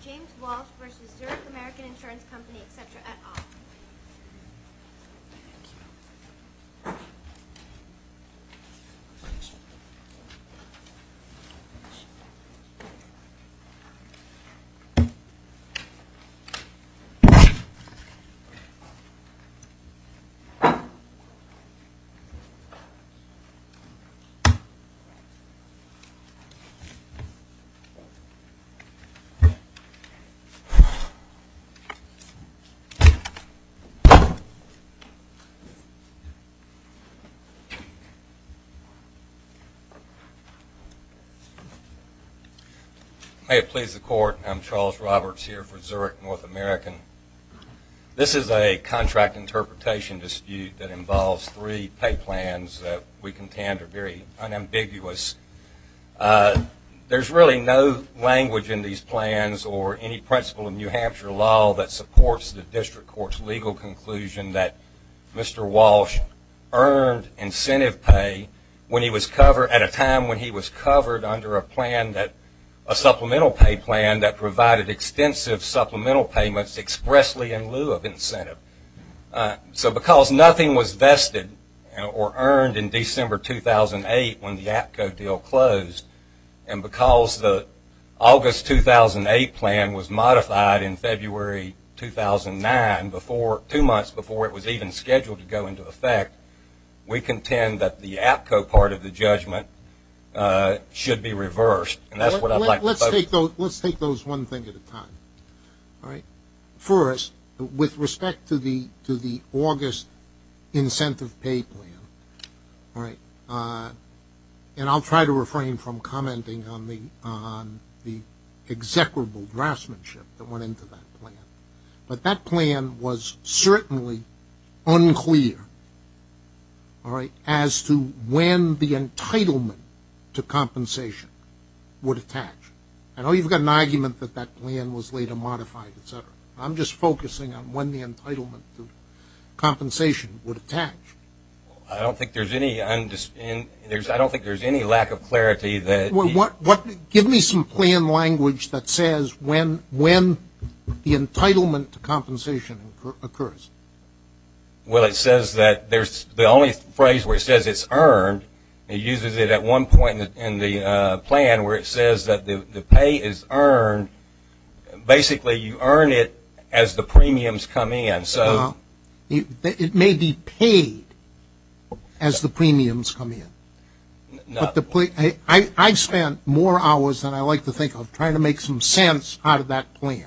v. Zurich American Insurance Company, etc. et al. May it please the Court, I'm Charles Roberts here for Zurich North American. This is a contract interpretation dispute that involves three pay plans that we contend are very unambiguous. There is really no language in these plans or any principle in New Hampshire law that supports the District Court's legal conclusion that Mr. Walsh earned incentive pay at a time when he was covered under a supplemental pay plan that provided extensive supplemental So because nothing was vested or earned in December 2008 when the APCO deal closed, and because the August 2008 plan was modified in February 2009, two months before it was even scheduled to go into effect, we contend that the APCO part of the judgment should be reversed. And that's what I'd like to focus on. Let's take those one thing at a time. First, with respect to the August incentive pay plan, and I'll try to refrain from commenting on the execrable draftsmanship that went into that plan. But that plan was certainly unclear as to when the entitlement to compensation would attach. I know you've got an argument that that plan was later modified, et cetera. I'm just focusing on when the entitlement to compensation would attach. I don't think there's any lack of clarity. Give me some plan language that says when the entitlement to compensation occurs. Well, it says that the only phrase where it says it's earned, it uses it at one point in the plan where it says that the pay is earned, basically you earn it as the premiums come in. Well, it may be paid as the premiums come in. I've spent more hours than I like to think of trying to make some sense out of that plan.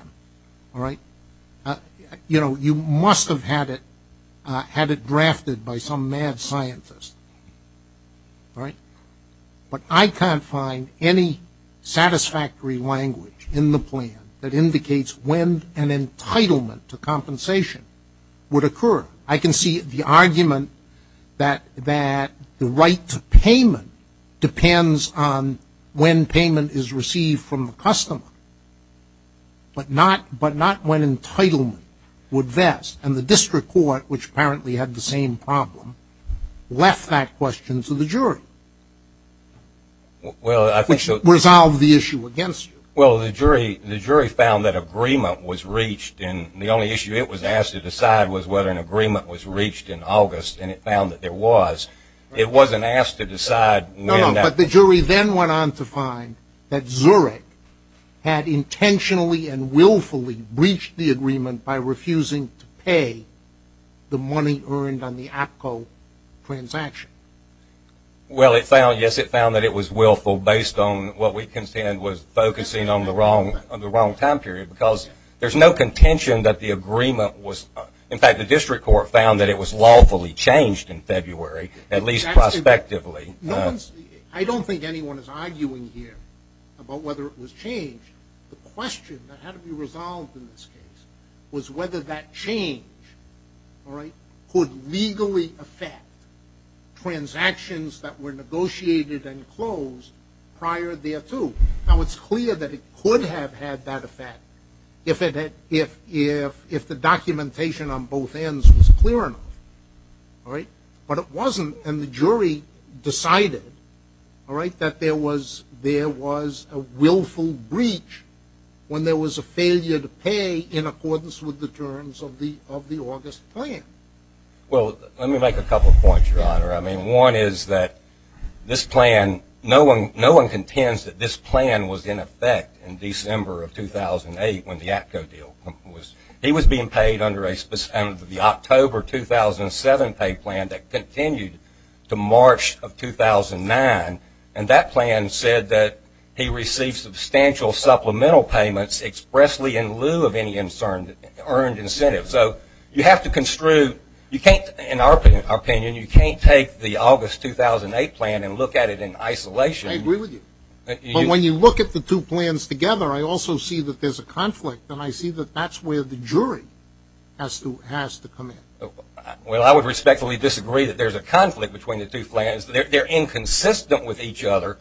You know, you must have had it drafted by some mad scientist. All right? But I can't find any satisfactory language in the plan that indicates when an entitlement to compensation would occur. I can see the argument that the right to payment depends on when payment is received from the customer, but not when entitlement would vest. And the district court, which apparently had the same problem, left that question to the jury, which resolved the issue against you. Well, the jury found that agreement was reached, and the only issue it was asked to decide was whether an agreement was reached in August, and it found that there was. It wasn't asked to decide when that was. No, no, but the jury then went on to find that Zurich had intentionally and willfully breached the agreement by refusing to pay the money earned on the APCO transaction. Well, yes, it found that it was willful based on what we contend was focusing on the wrong time period, because there's no contention that the agreement was – in fact, the district court found that it was lawfully changed in February, at least prospectively. I don't think anyone is arguing here about whether it was changed. The question that had to be resolved in this case was whether that change, all right, could legally affect transactions that were negotiated and closed prior thereto. Now, it's clear that it could have had that effect if the documentation on both ends was clear enough, all right? But it wasn't, and the jury decided, all right, that there was a willful breach when there was a failure to pay in accordance with the terms of the August plan. Well, let me make a couple of points, Your Honor. I mean, one is that this plan – no one contends that this plan was in effect in December of 2008 when the APCO deal was – he was being paid under a – the October 2007 pay plan that continued to March of 2009, and that plan said that he received substantial supplemental payments expressly in lieu of any earned incentive. So you have to construe – you can't – in our opinion, you can't take the August 2008 plan and look at it in isolation. I agree with you. But when you look at the two plans together, I also see that there's a conflict, and I see that that's where the jury has to come in. Well, I would respectfully disagree that there's a conflict between the two plans. They're inconsistent with each other,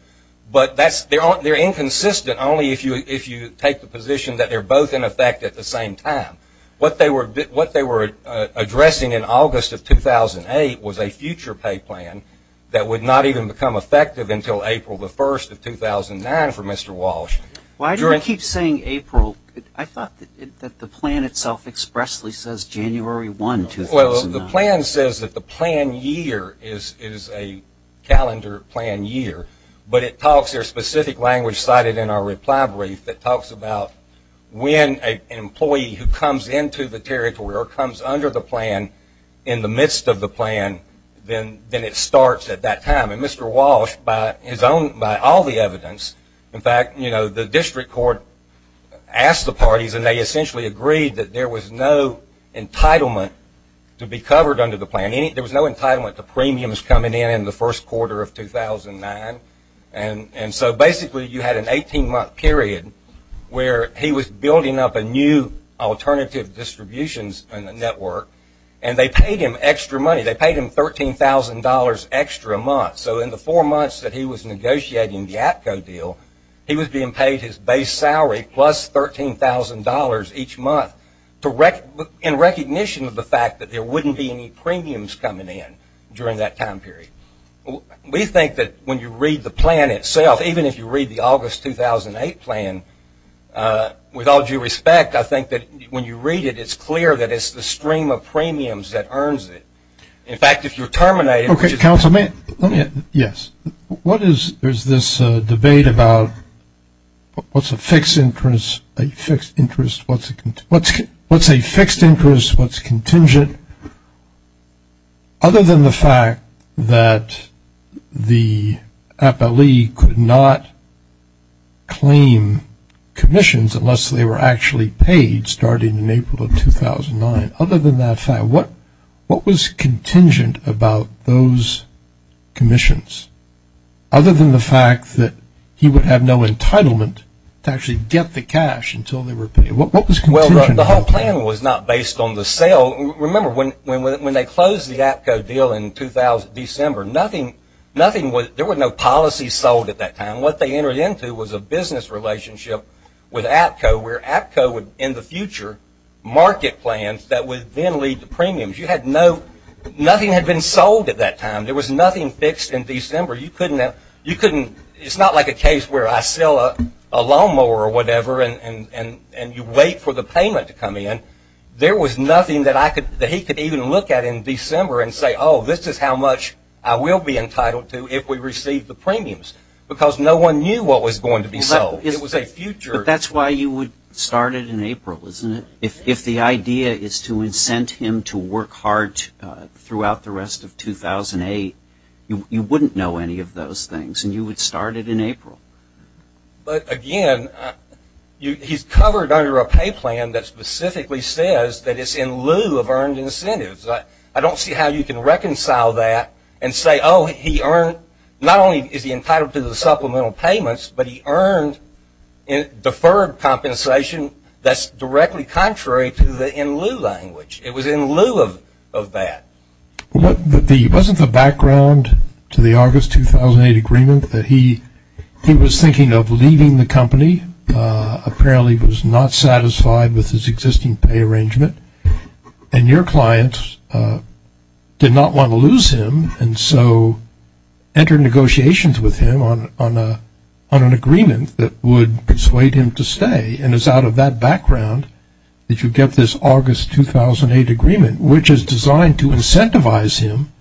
but that's – they're inconsistent only if you take the position that they're both in effect at the same time. What they were addressing in August of 2008 was a future pay plan that would not even become effective until April the 1st of 2009 for Mr. Walsh. Why do I keep saying April? I thought that the plan itself expressly says January 1, 2009. Well, the plan says that the plan year is a calendar plan year, but it talks – there's specific language cited in our reply brief that talks about when an employee who comes into the territory or comes under the plan in the midst of the plan, then it starts at that time. And Mr. Walsh, by his own – by all the evidence – in fact, you know, the district court asked the parties, and they essentially agreed that there was no entitlement to be covered under the plan. There was no entitlement to premiums coming in in the first quarter of 2009. And so basically, you had an 18-month period where he was building up a new alternative distributions network, and they paid him extra money. They paid him $13,000 extra a month. So in the four months that he was negotiating the APCO deal, he was being paid his base salary plus $13,000 each month in recognition of the fact that there wouldn't be any premiums coming in during that time period. We think that when you read the plan itself, even if you read the August 2008 plan, with all due respect, I think that when you read it, it's clear that it's the stream of In fact, if you're terminating – Okay, counsel, may I – let me – yes. What is – there's this debate about what's a fixed interest – a fixed interest, what's a – what's a fixed interest, what's contingent? Other than the fact that the Appalachee could not claim commissions unless they were actually paid starting in April of 2009, other than that fact, what was contingent about those commissions? Other than the fact that he would have no entitlement to actually get the cash until they were paid. What was contingent of the plan? Well, the whole plan was not based on the sale. Remember, when they closed the APCO deal in December, nothing – there were no policies sold at that time. And what they entered into was a business relationship with APCO where APCO would, in the future, market plans that would then lead to premiums. You had no – nothing had been sold at that time. There was nothing fixed in December. You couldn't – you couldn't – it's not like a case where I sell a lawnmower or whatever and you wait for the payment to come in. There was nothing that I could – that he could even look at in December and say, oh, this is how much I will be entitled to if we receive the premiums. Because no one knew what was going to be sold. It was a future – But that's why you would start it in April, isn't it? If the idea is to incent him to work hard throughout the rest of 2008, you wouldn't know any of those things and you would start it in April. But again, he's covered under a pay plan that specifically says that it's in lieu of earned incentives. I don't see how you can reconcile that and say, oh, he earned – not only is he entitled to the supplemental payments, but he earned a deferred compensation that's directly contrary to the in lieu language. It was in lieu of that. Wasn't the background to the August 2008 agreement that he was thinking of leaving the company, apparently was not satisfied with his existing pay arrangement, and your client did not want to lose him, and so entered negotiations with him on an agreement that would persuade him to stay, and it's out of that background that you get this August 2008 agreement, which is designed to incentivize him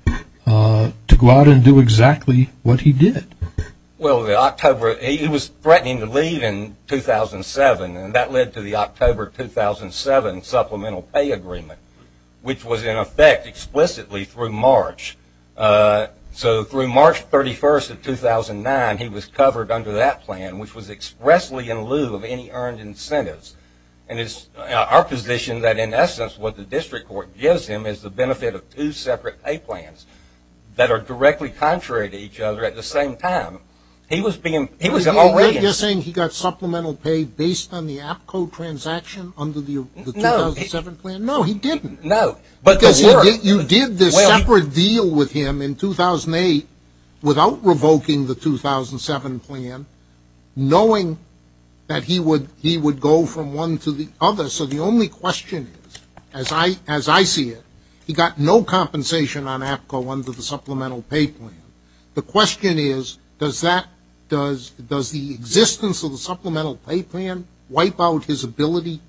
to go out and do exactly what he did. Well, the October – he was threatening to leave in 2007, and that led to the October 2007 supplemental pay agreement, which was in effect explicitly through March. So through March 31st of 2009, he was covered under that plan, which was expressly in lieu of any earned incentives, and it's our position that, in essence, what the district court gives him is the benefit of two separate pay plans that are directly contrary to each other at the same time. He was being – he was – So you're saying he got supplemental pay based on the APCO transaction under the 2007 plan? No, he didn't. No. Because you did this separate deal with him in 2008 without revoking the 2007 plan, knowing that he would go from one to the other. So the only question is, as I see it, he got no compensation on APCO under the supplemental pay plan. The question is, does that – does the existence of the supplemental pay plan wipe out his ability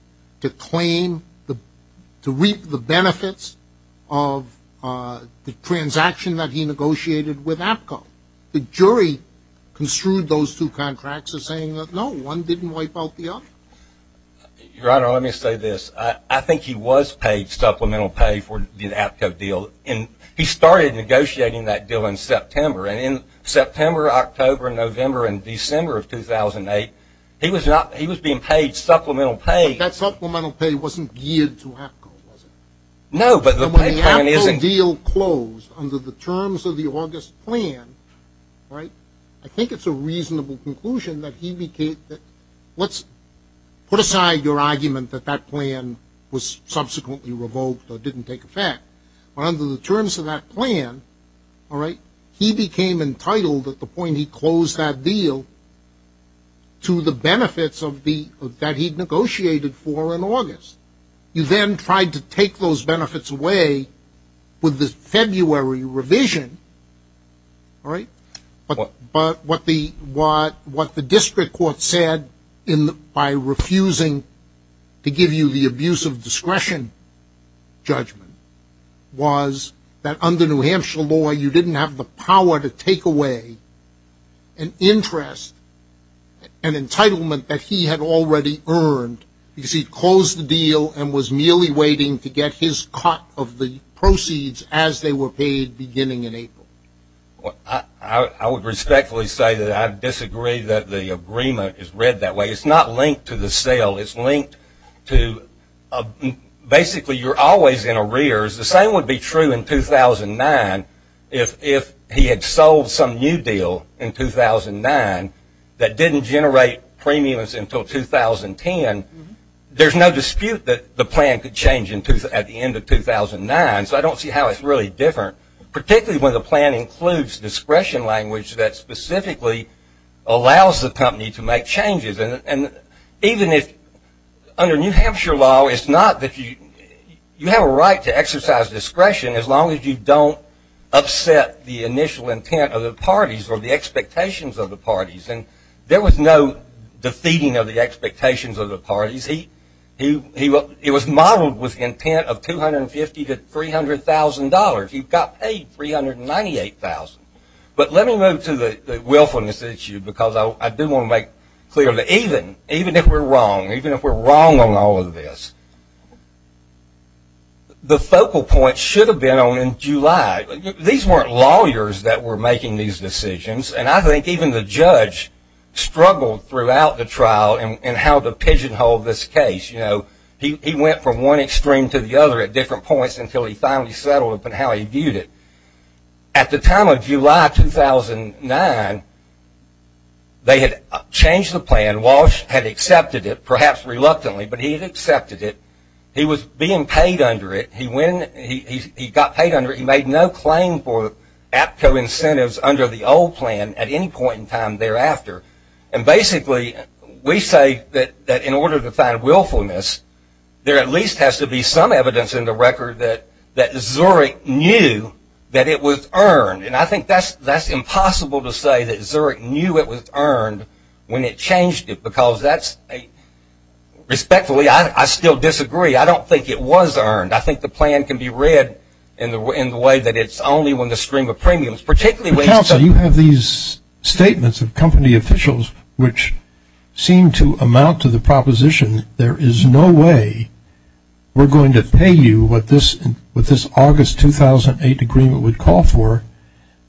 to claim – to reap the benefits of the transaction that he negotiated with APCO? The jury construed those two contracts as saying that, no, one didn't wipe out the other. Your Honor, let me say this. I think he was paid supplemental pay for the APCO deal, and he started negotiating that deal in September. And in September, October, November, and December of 2008, he was not – he was being paid supplemental pay. But that supplemental pay wasn't geared to APCO, was it? No, but the pay plan isn't – So when the APCO deal closed under the terms of the August plan, right, I think it's a reasonable conclusion that he became – let's put aside your argument that that plan was subsequently revoked or didn't take effect. But under the terms of that plan, all right, he became entitled at the point he closed that deal to the benefits of the – that he negotiated for in August. You then tried to take those benefits away with the February revision, all right, but what the – what the district court said in – by refusing to give you the abuse of discretion judgment was that under New Hampshire law, you didn't have the power to take away an interest, an entitlement that he had already earned because he closed the deal and was merely waiting to get his cut of the proceeds as they were paid beginning in April. I would respectfully say that I disagree that the agreement is read that way. It's not linked to the sale. It's linked to – basically, you're always in arrears. The same would be true in 2009 if he had sold some new deal in 2009 that didn't generate premiums until 2010. There's no dispute that the plan could change at the end of 2009, so I don't see how it's really different, particularly when the plan includes discretion language that specifically allows the company to make changes. And even if – under New Hampshire law, it's not that you – you have a right to exercise discretion as long as you don't upset the initial intent of the parties or the expectations of the parties. And there was no defeating of the expectations of the parties. He was modeled with intent of $250,000 to $300,000. He got paid $398,000. But let me move to the willfulness issue because I do want to make clear that even if we're wrong, even if we're wrong on all of this, the focal point should have been on in July. These weren't lawyers that were making these decisions, and I think even the judge struggled throughout the trial in how to pigeonhole this case. You know, he went from one extreme to the other at different points until he finally settled upon how he viewed it. At the time of July 2009, they had changed the plan. Walsh had accepted it, perhaps reluctantly, but he had accepted it. He was being paid under it. He went – he got paid under it. He made no claim for APCO incentives under the old plan at any point in time thereafter. And basically, we say that in order to find willfulness, there at least has to be some evidence in the record that Zurich knew that it was earned. And I think that's impossible to say that Zurich knew it was earned when it changed it because that's a – respectfully, I still disagree. I don't think it was earned. I think the plan can be read in the way that it's only when the stream of premiums, particularly – Counsel, you have these statements of company officials which seem to amount to the proposition there is no way we're going to pay you what this – what this August 2008 agreement would call for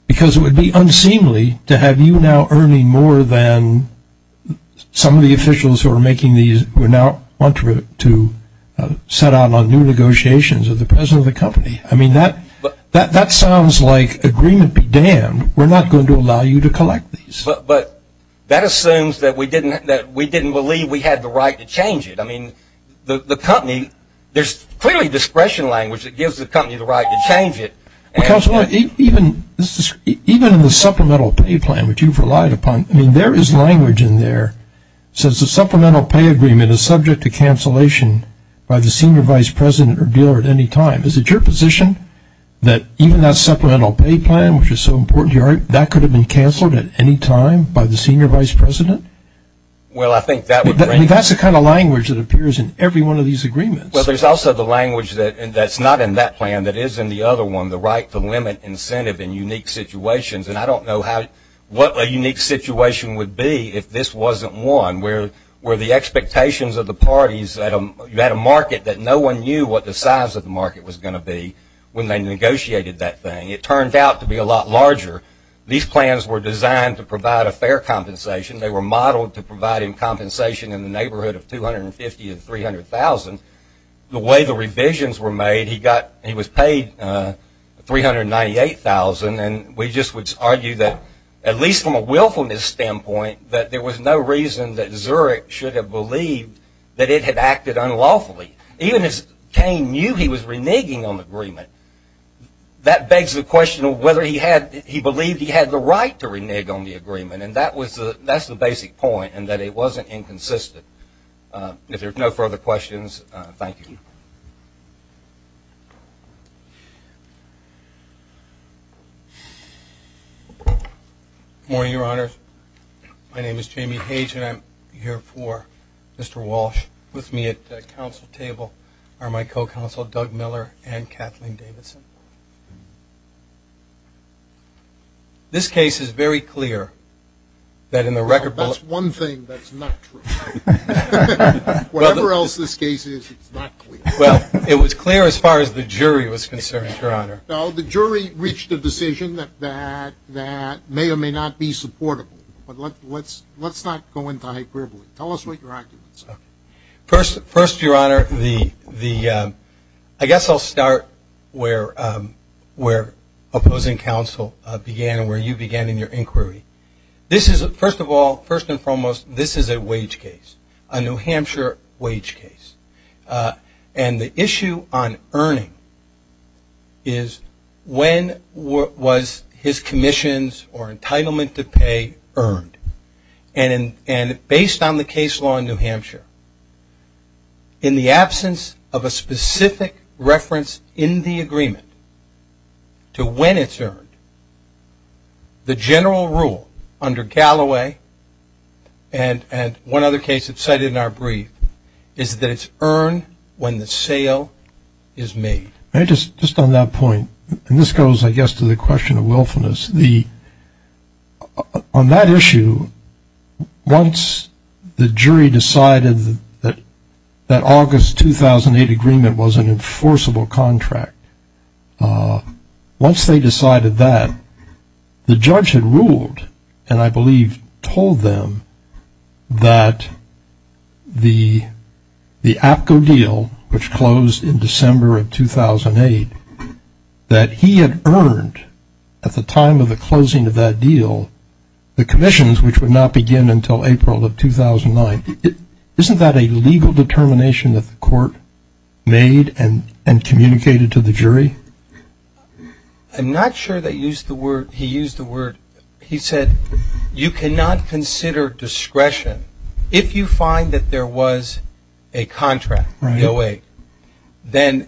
because it would be unseemly to have you now earning more than some of the officials who are making these – who now want to set out on new negotiations as the president of the company. I mean, that – that sounds like agreement be damned. We're not going to allow you to collect these. But that assumes that we didn't – that we didn't believe we had the right to change it. I mean, the company – there's clearly discretion language that gives the company the right to change it. Counsel, even – even in the supplemental pay plan which you've relied upon, I mean, there is language in there that says the supplemental pay agreement is subject to cancellation by the senior vice president or dealer at any time. Is it your position that even that supplemental pay plan, which is so important to your – that could have been canceled at any time by the senior vice president? Well I think that would – I mean, that's the kind of language that appears in every one of these agreements. Well, there's also the language that – that's not in that plan, that is in the other one, the right to limit incentive in unique situations. And I don't know how – what a unique situation would be if this wasn't one where – where the expectations of the parties at a – you had a market that no one knew what the size of the market was going to be when they negotiated that thing. It turned out to be a lot larger. These plans were designed to provide a fair compensation. They were modeled to provide him compensation in the neighborhood of 250 to 300,000. The way the revisions were made, he got – he was paid 398,000 and we just would argue that at least from a willfulness standpoint, that there was no reason that Zurich should have believed that it had acted unlawfully. Even if Kane knew he was reneging on the agreement, that begs the question of whether he had – he believed he had the right to renege on the agreement. And that was the – that's the basic point, and that it wasn't inconsistent. If there's no further questions, thank you. Good morning, Your Honors. My name is Jamie Hage and I'm here for Mr. Walsh. With me at the council table are my co-counsel, Doug Miller, and Kathleen Davidson. This case is very clear that in the record – Well, that's one thing that's not true. Whatever else this case is, it's not clear. Well, it was clear as far as the jury was concerned, Your Honor. Well, the jury reached a decision that may or may not be supportable. But let's not go into hyperbole. Tell us what your arguments are. First, Your Honor, the – I guess I'll start where opposing counsel began and where you began in your inquiry. This is – first of all, first and foremost, this is a wage case, a New Hampshire wage case. And the issue on earning is when was his commissions or entitlement to pay earned? And based on the case law in New Hampshire, in the absence of a specific reference in the agreement to when it's earned, the general rule under Galloway and one other case that's cited in our brief is that it's earned when the sale is made. Just on that point, and this goes, I guess, to the question of willfulness, on that issue, once the jury decided that August 2008 agreement was an enforceable contract, once they decided that, the judge had ruled and I believe told them that the APCO deal, which closed in December of 2008, that he had earned at the time of the closing of that deal the commissions, which would not begin until April of 2009. Isn't that a legal determination that the court made and communicated to the jury? I'm not sure that he used the word – he said, you cannot consider discretion. If you find that there was a contract, the OA, then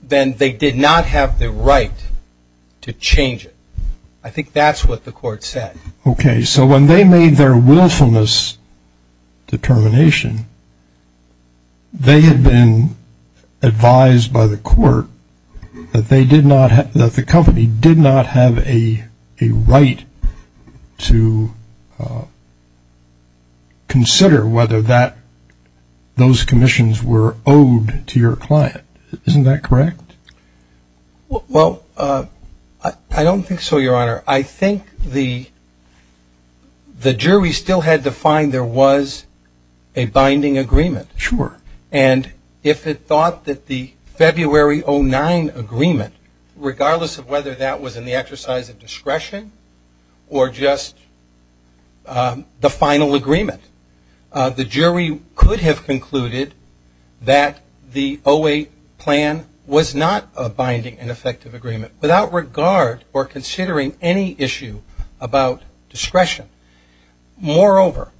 they did not have the right to change it. I think that's what the court said. Okay, so when they made their willfulness determination, they had been advised by the court that the company did not have a right to consider whether those commissions were owed to your client. Isn't that correct? Well, I don't think so, Your Honor. I think the jury still had to find there was a binding agreement. Sure. And if it thought that the February 2009 agreement, regardless of whether that was in the exercise of discretion or just the final agreement, the jury could have concluded that the 08 plan was not a binding and effective agreement. Without regard or considering any issue about discretion. Moreover,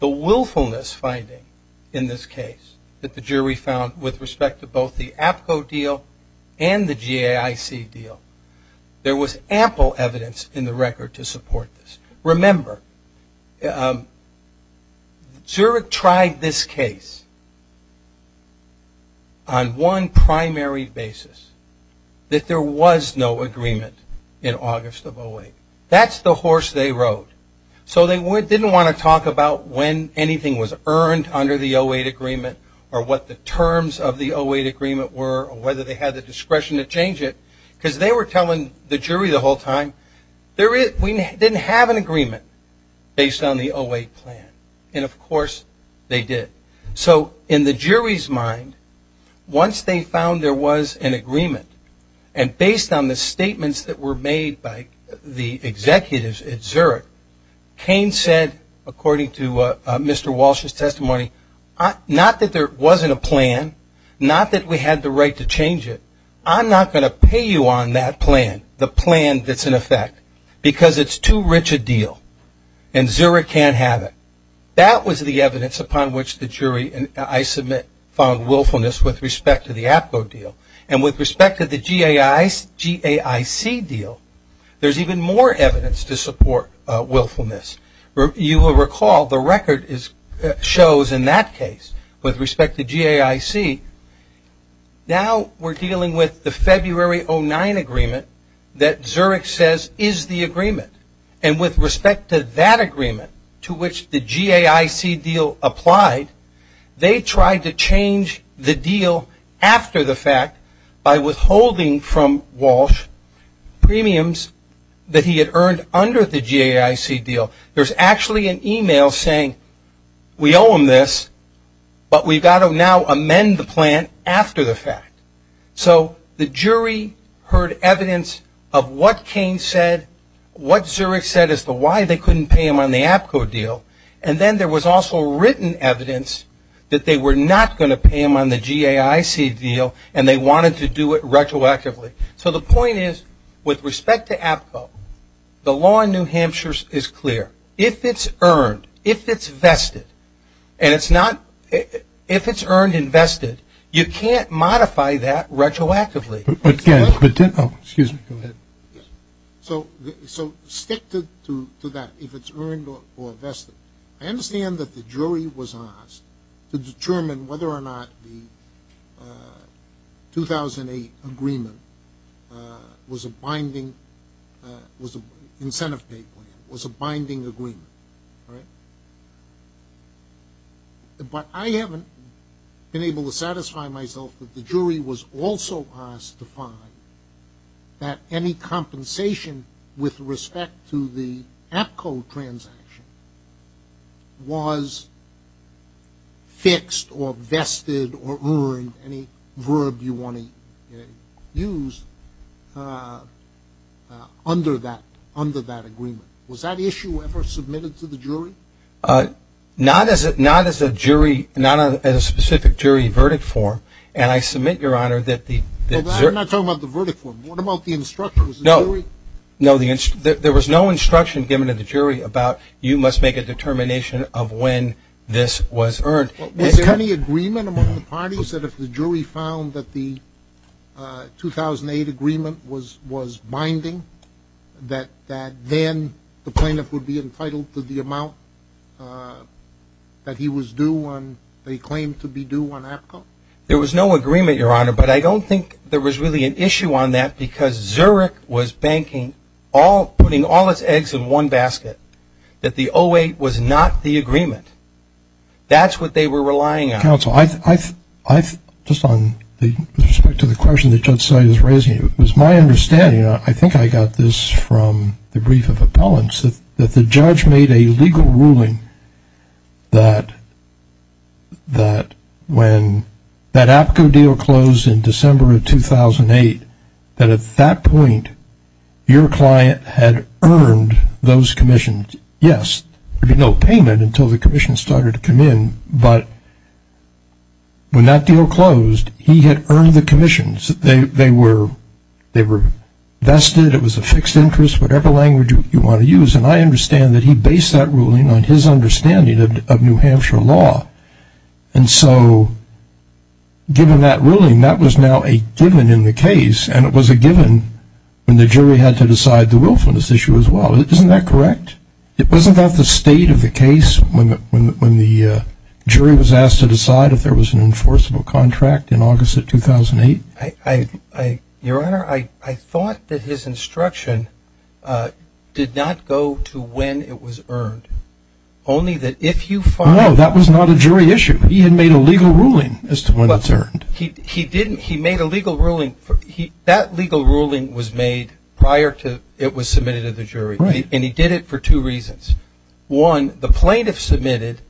the willfulness finding in this case that the jury found with respect to both the APCO deal and the GAIC deal, there was ample evidence in the record to support this. Remember, Zurich tried this case on one primary basis, that there was no agreement in August of 08. That's the horse they rode. So they didn't want to talk about when anything was earned under the 08 agreement or what the terms of the 08 agreement were or whether they had the discretion to change it, because they were telling the jury the whole time, we didn't have an agreement based on the 08 plan. And, of course, they did. So in the jury's mind, once they found there was an agreement, and based on the statements that were made by the executives at Zurich, Cain said, according to Mr. Walsh's testimony, not that there wasn't a plan, not that we had the right to change it, I'm not going to pay you on that plan, the plan that's in effect, because it's too rich a deal and Zurich can't have it. That was the evidence upon which the jury, I submit, found willfulness with respect to the APCO deal. And with respect to the GAIC deal, there's even more evidence to support willfulness. You will recall the record shows in that case, with respect to GAIC, now we're dealing with the February 09 agreement that Zurich says is the agreement. And with respect to that agreement, to which the GAIC deal applied, they tried to change the deal after the fact by withholding from Walsh premiums that he had earned under the GAIC deal. There's actually an email saying we owe him this, but we've got to now amend the plan after the fact. So the jury heard evidence of what Cain said, what Zurich said as to why they couldn't pay him on the APCO deal. And then there was also written evidence that they were not going to pay him on the GAIC deal and they wanted to do it retroactively. So the point is, with respect to APCO, the law in New Hampshire is clear. If it's earned, if it's vested, and it's not – if it's earned and vested, you can't modify that retroactively. Excuse me. Go ahead. So stick to that, if it's earned or vested. I understand that the jury was asked to determine whether or not the 2008 agreement was a binding – was an incentive pay plan, was a binding agreement, right? But I haven't been able to satisfy myself that the jury was also asked to find that any compensation with respect to the APCO transaction was fixed or vested or earned, any verb you want to use, under that agreement. Was that issue ever submitted to the jury? Not as a jury – not as a specific jury verdict form. And I submit, Your Honor, that the – I'm not talking about the verdict form. What about the instructions? No. Was the jury – No, the – there was no instruction given to the jury about, you must make a determination of when this was earned. Was there any agreement among the parties that if the jury found that the 2008 agreement was binding, that then the plaintiff would be entitled to the amount that he was due on – that he claimed to be due on APCO? There was no agreement, Your Honor, but I don't think there was really an issue on that because Zurich was banking all – putting all its eggs in one basket, that the 2008 was not the agreement. That's what they were relying on. Counsel, I – just on the – with respect to the question that Judge Seid is raising, it was my understanding – I think I got this from the brief of appellants – that the judge made a legal ruling that when that APCO deal closed in December of 2008, that at that point your client had earned those commissions. Yes, there'd be no payment until the commissions started to come in, but when that deal closed, he had earned the commissions. They were vested. It was a fixed interest. Whatever language you want to use. And I understand that he based that ruling on his understanding of New Hampshire law. And so given that ruling, that was now a given in the case, and it was a given when the jury had to decide the willfulness issue as well. Isn't that correct? It wasn't that the state of the case when the jury was asked to decide if there was an enforceable contract in August of 2008? Your Honor, I thought that his instruction did not go to when it was earned, only that if you find – No, that was not a jury issue. He had made a legal ruling as to when it's earned. He didn't – he made a legal ruling – that legal ruling was made prior to it was submitted to the jury. Right. And he did it for two reasons. One, the plaintiff submitted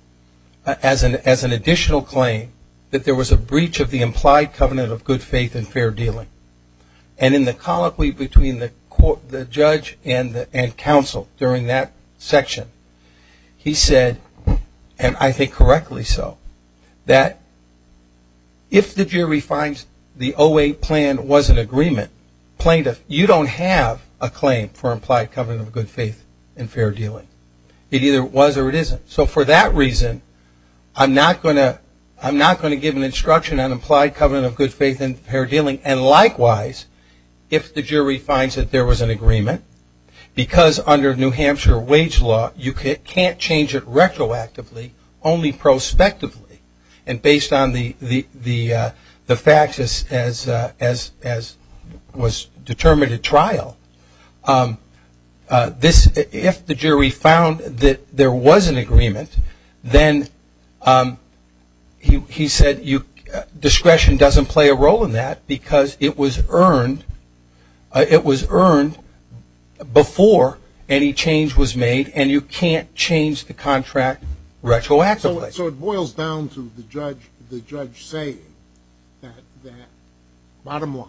as an additional claim that there was a breach of the implied covenant of good faith and fair dealing. And in the colloquy between the judge and counsel during that section, he said, and I think correctly so, that if the jury finds the 08 plan was an agreement, plaintiff, you don't have a claim for implied covenant of good faith and fair dealing. It either was or it isn't. So for that reason, I'm not going to give an instruction on implied covenant of good faith and fair dealing. And likewise, if the jury finds that there was an agreement, because under New Hampshire wage law, you can't change it retroactively, only prospectively. And based on the facts as was determined at trial, if the jury found that there was an agreement, then he said discretion doesn't play a role in that because it was earned before any change was made and you can't change the contract retroactively. So it boils down to the judge saying that bottom line,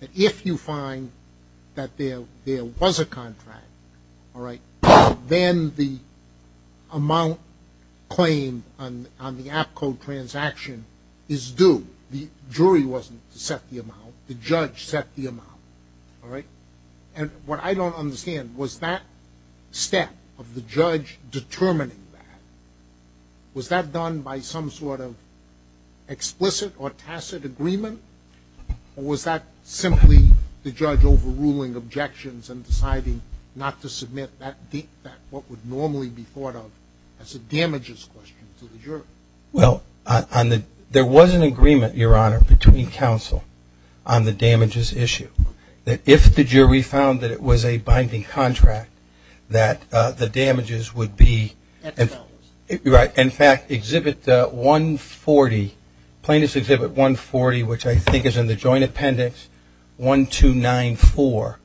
that if you find that there was a contract, all right, then the amount claimed on the APCO transaction is due. The jury wasn't to set the amount. The judge set the amount, all right? And what I don't understand, was that step of the judge determining that, was that done by some sort of explicit or tacit agreement or was that simply the judge overruling objections and deciding not to submit what would normally be thought of as a damages question to the jury? Well, there was an agreement, Your Honor, between counsel on the damages issue. That if the jury found that it was a binding contract, that the damages would be, in fact, Exhibit 140, Plaintiff's Exhibit 140, which I think is in the joint appendix 1294,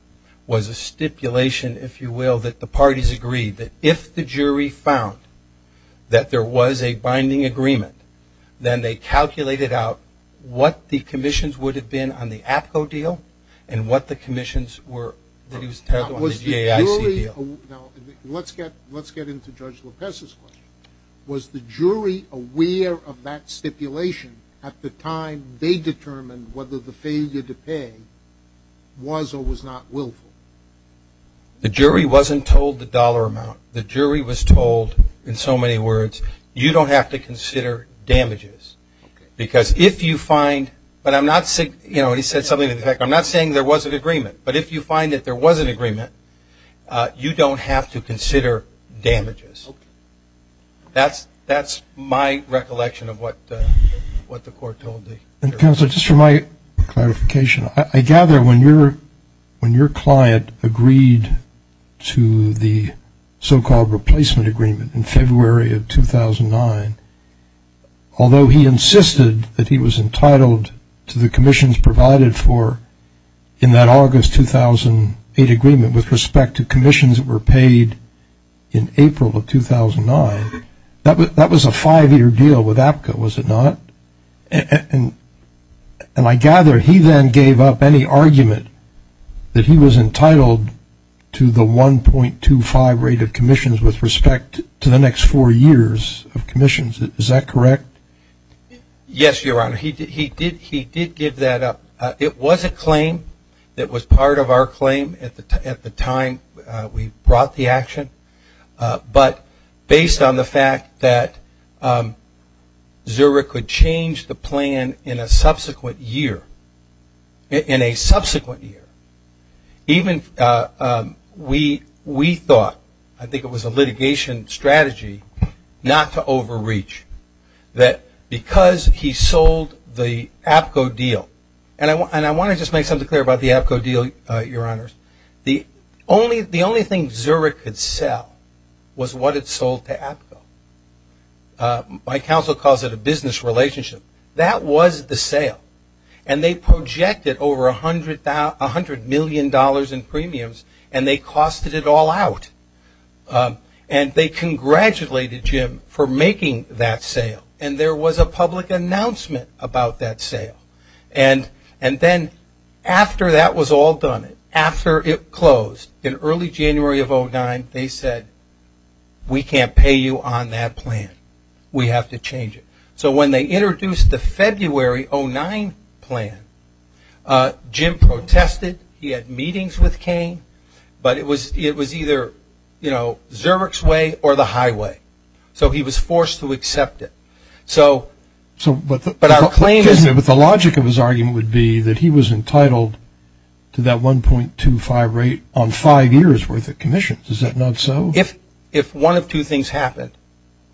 was a stipulation, if you will, that the parties agreed that if the jury found that there was a binding agreement, then they calculated out what the commissions would have been on the APCO deal and what the commissions were that he was entitled to on the GAIC deal. Now, let's get into Judge Lopez's question. Was the jury aware of that stipulation at the time they determined whether the failure to pay was or was not willful? The jury wasn't told the dollar amount. The jury was told, in so many words, you don't have to consider damages. Okay. Because if you find, but I'm not, you know, he said something to the effect, I'm not saying there wasn't agreement, but if you find that there was an agreement, you don't have to consider damages. Okay. That's my recollection of what the court told the jury. Counselor, just for my clarification, I gather when your client agreed to the so-called replacement agreement in February of 2009, although he insisted that he was entitled to the commissions provided for in that August 2008 agreement with respect to commissions that were paid in April of 2009, that was a five-year deal with APCO, was it not? And I gather he then gave up any argument that he was entitled to the 1.25 rate of commissions with respect to the next four years of commissions. Is that correct? Yes, Your Honor. He did give that up. It was a claim that was part of our claim at the time we brought the action, but based on the fact that Zurich could change the plan in a subsequent year, in a subsequent year, even we thought, I think it was a litigation strategy not to overreach, that because he sold the APCO deal, and I want to just make something clear about the APCO deal, Your Honors. The only thing Zurich could sell was what it sold to APCO. My counsel calls it a business relationship. That was the sale, and they projected over $100 million in premiums, and they costed it all out. And they congratulated Jim for making that sale, and there was a public announcement about that sale. And then after that was all done, after it closed in early January of 2009, they said, we can't pay you on that plan. We have to change it. So when they introduced the February 2009 plan, Jim protested. He had meetings with Kane, but it was either Zurich's way or the highway. So he was forced to accept it. But the logic of his argument would be that he was entitled to that 1.25 rate on five years' worth of commissions. Is that not so? If one of two things happened,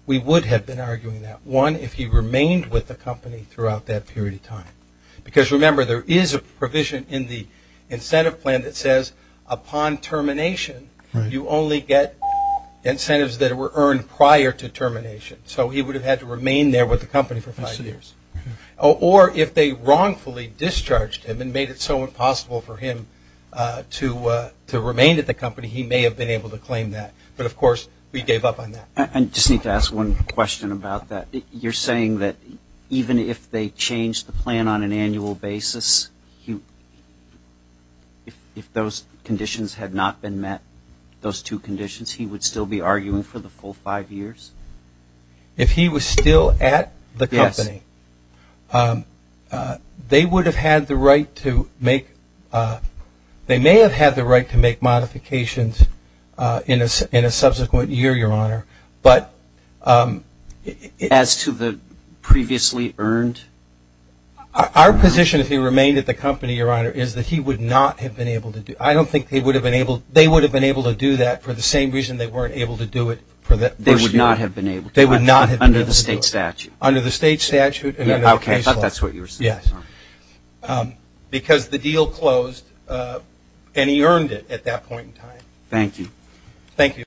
we would have been arguing that. One, if he remained with the company throughout that period of time. Because, remember, there is a provision in the incentive plan that says, upon termination, you only get incentives that were earned prior to termination. So he would have had to remain there with the company for five years. Or if they wrongfully discharged him and made it so impossible for him to remain at the company, he may have been able to claim that. But, of course, we gave up on that. I just need to ask one question about that. You're saying that even if they changed the plan on an annual basis, if those conditions had not been met, those two conditions, he would still be arguing for the full five years? If he was still at the company, they may have had the right to make modifications in a subsequent year, Your Honor. As to the previously earned? Our position, if he remained at the company, Your Honor, is that he would not have been able to do it. I don't think they would have been able to do that for the same reason they weren't able to do it for the first year. They would not have been able to do it? They would not have been able to do it. Under the state statute? Under the state statute and under the case law. Okay, I thought that's what you were saying. Yes. Because the deal closed and he earned it at that point in time. Thank you. Thank you.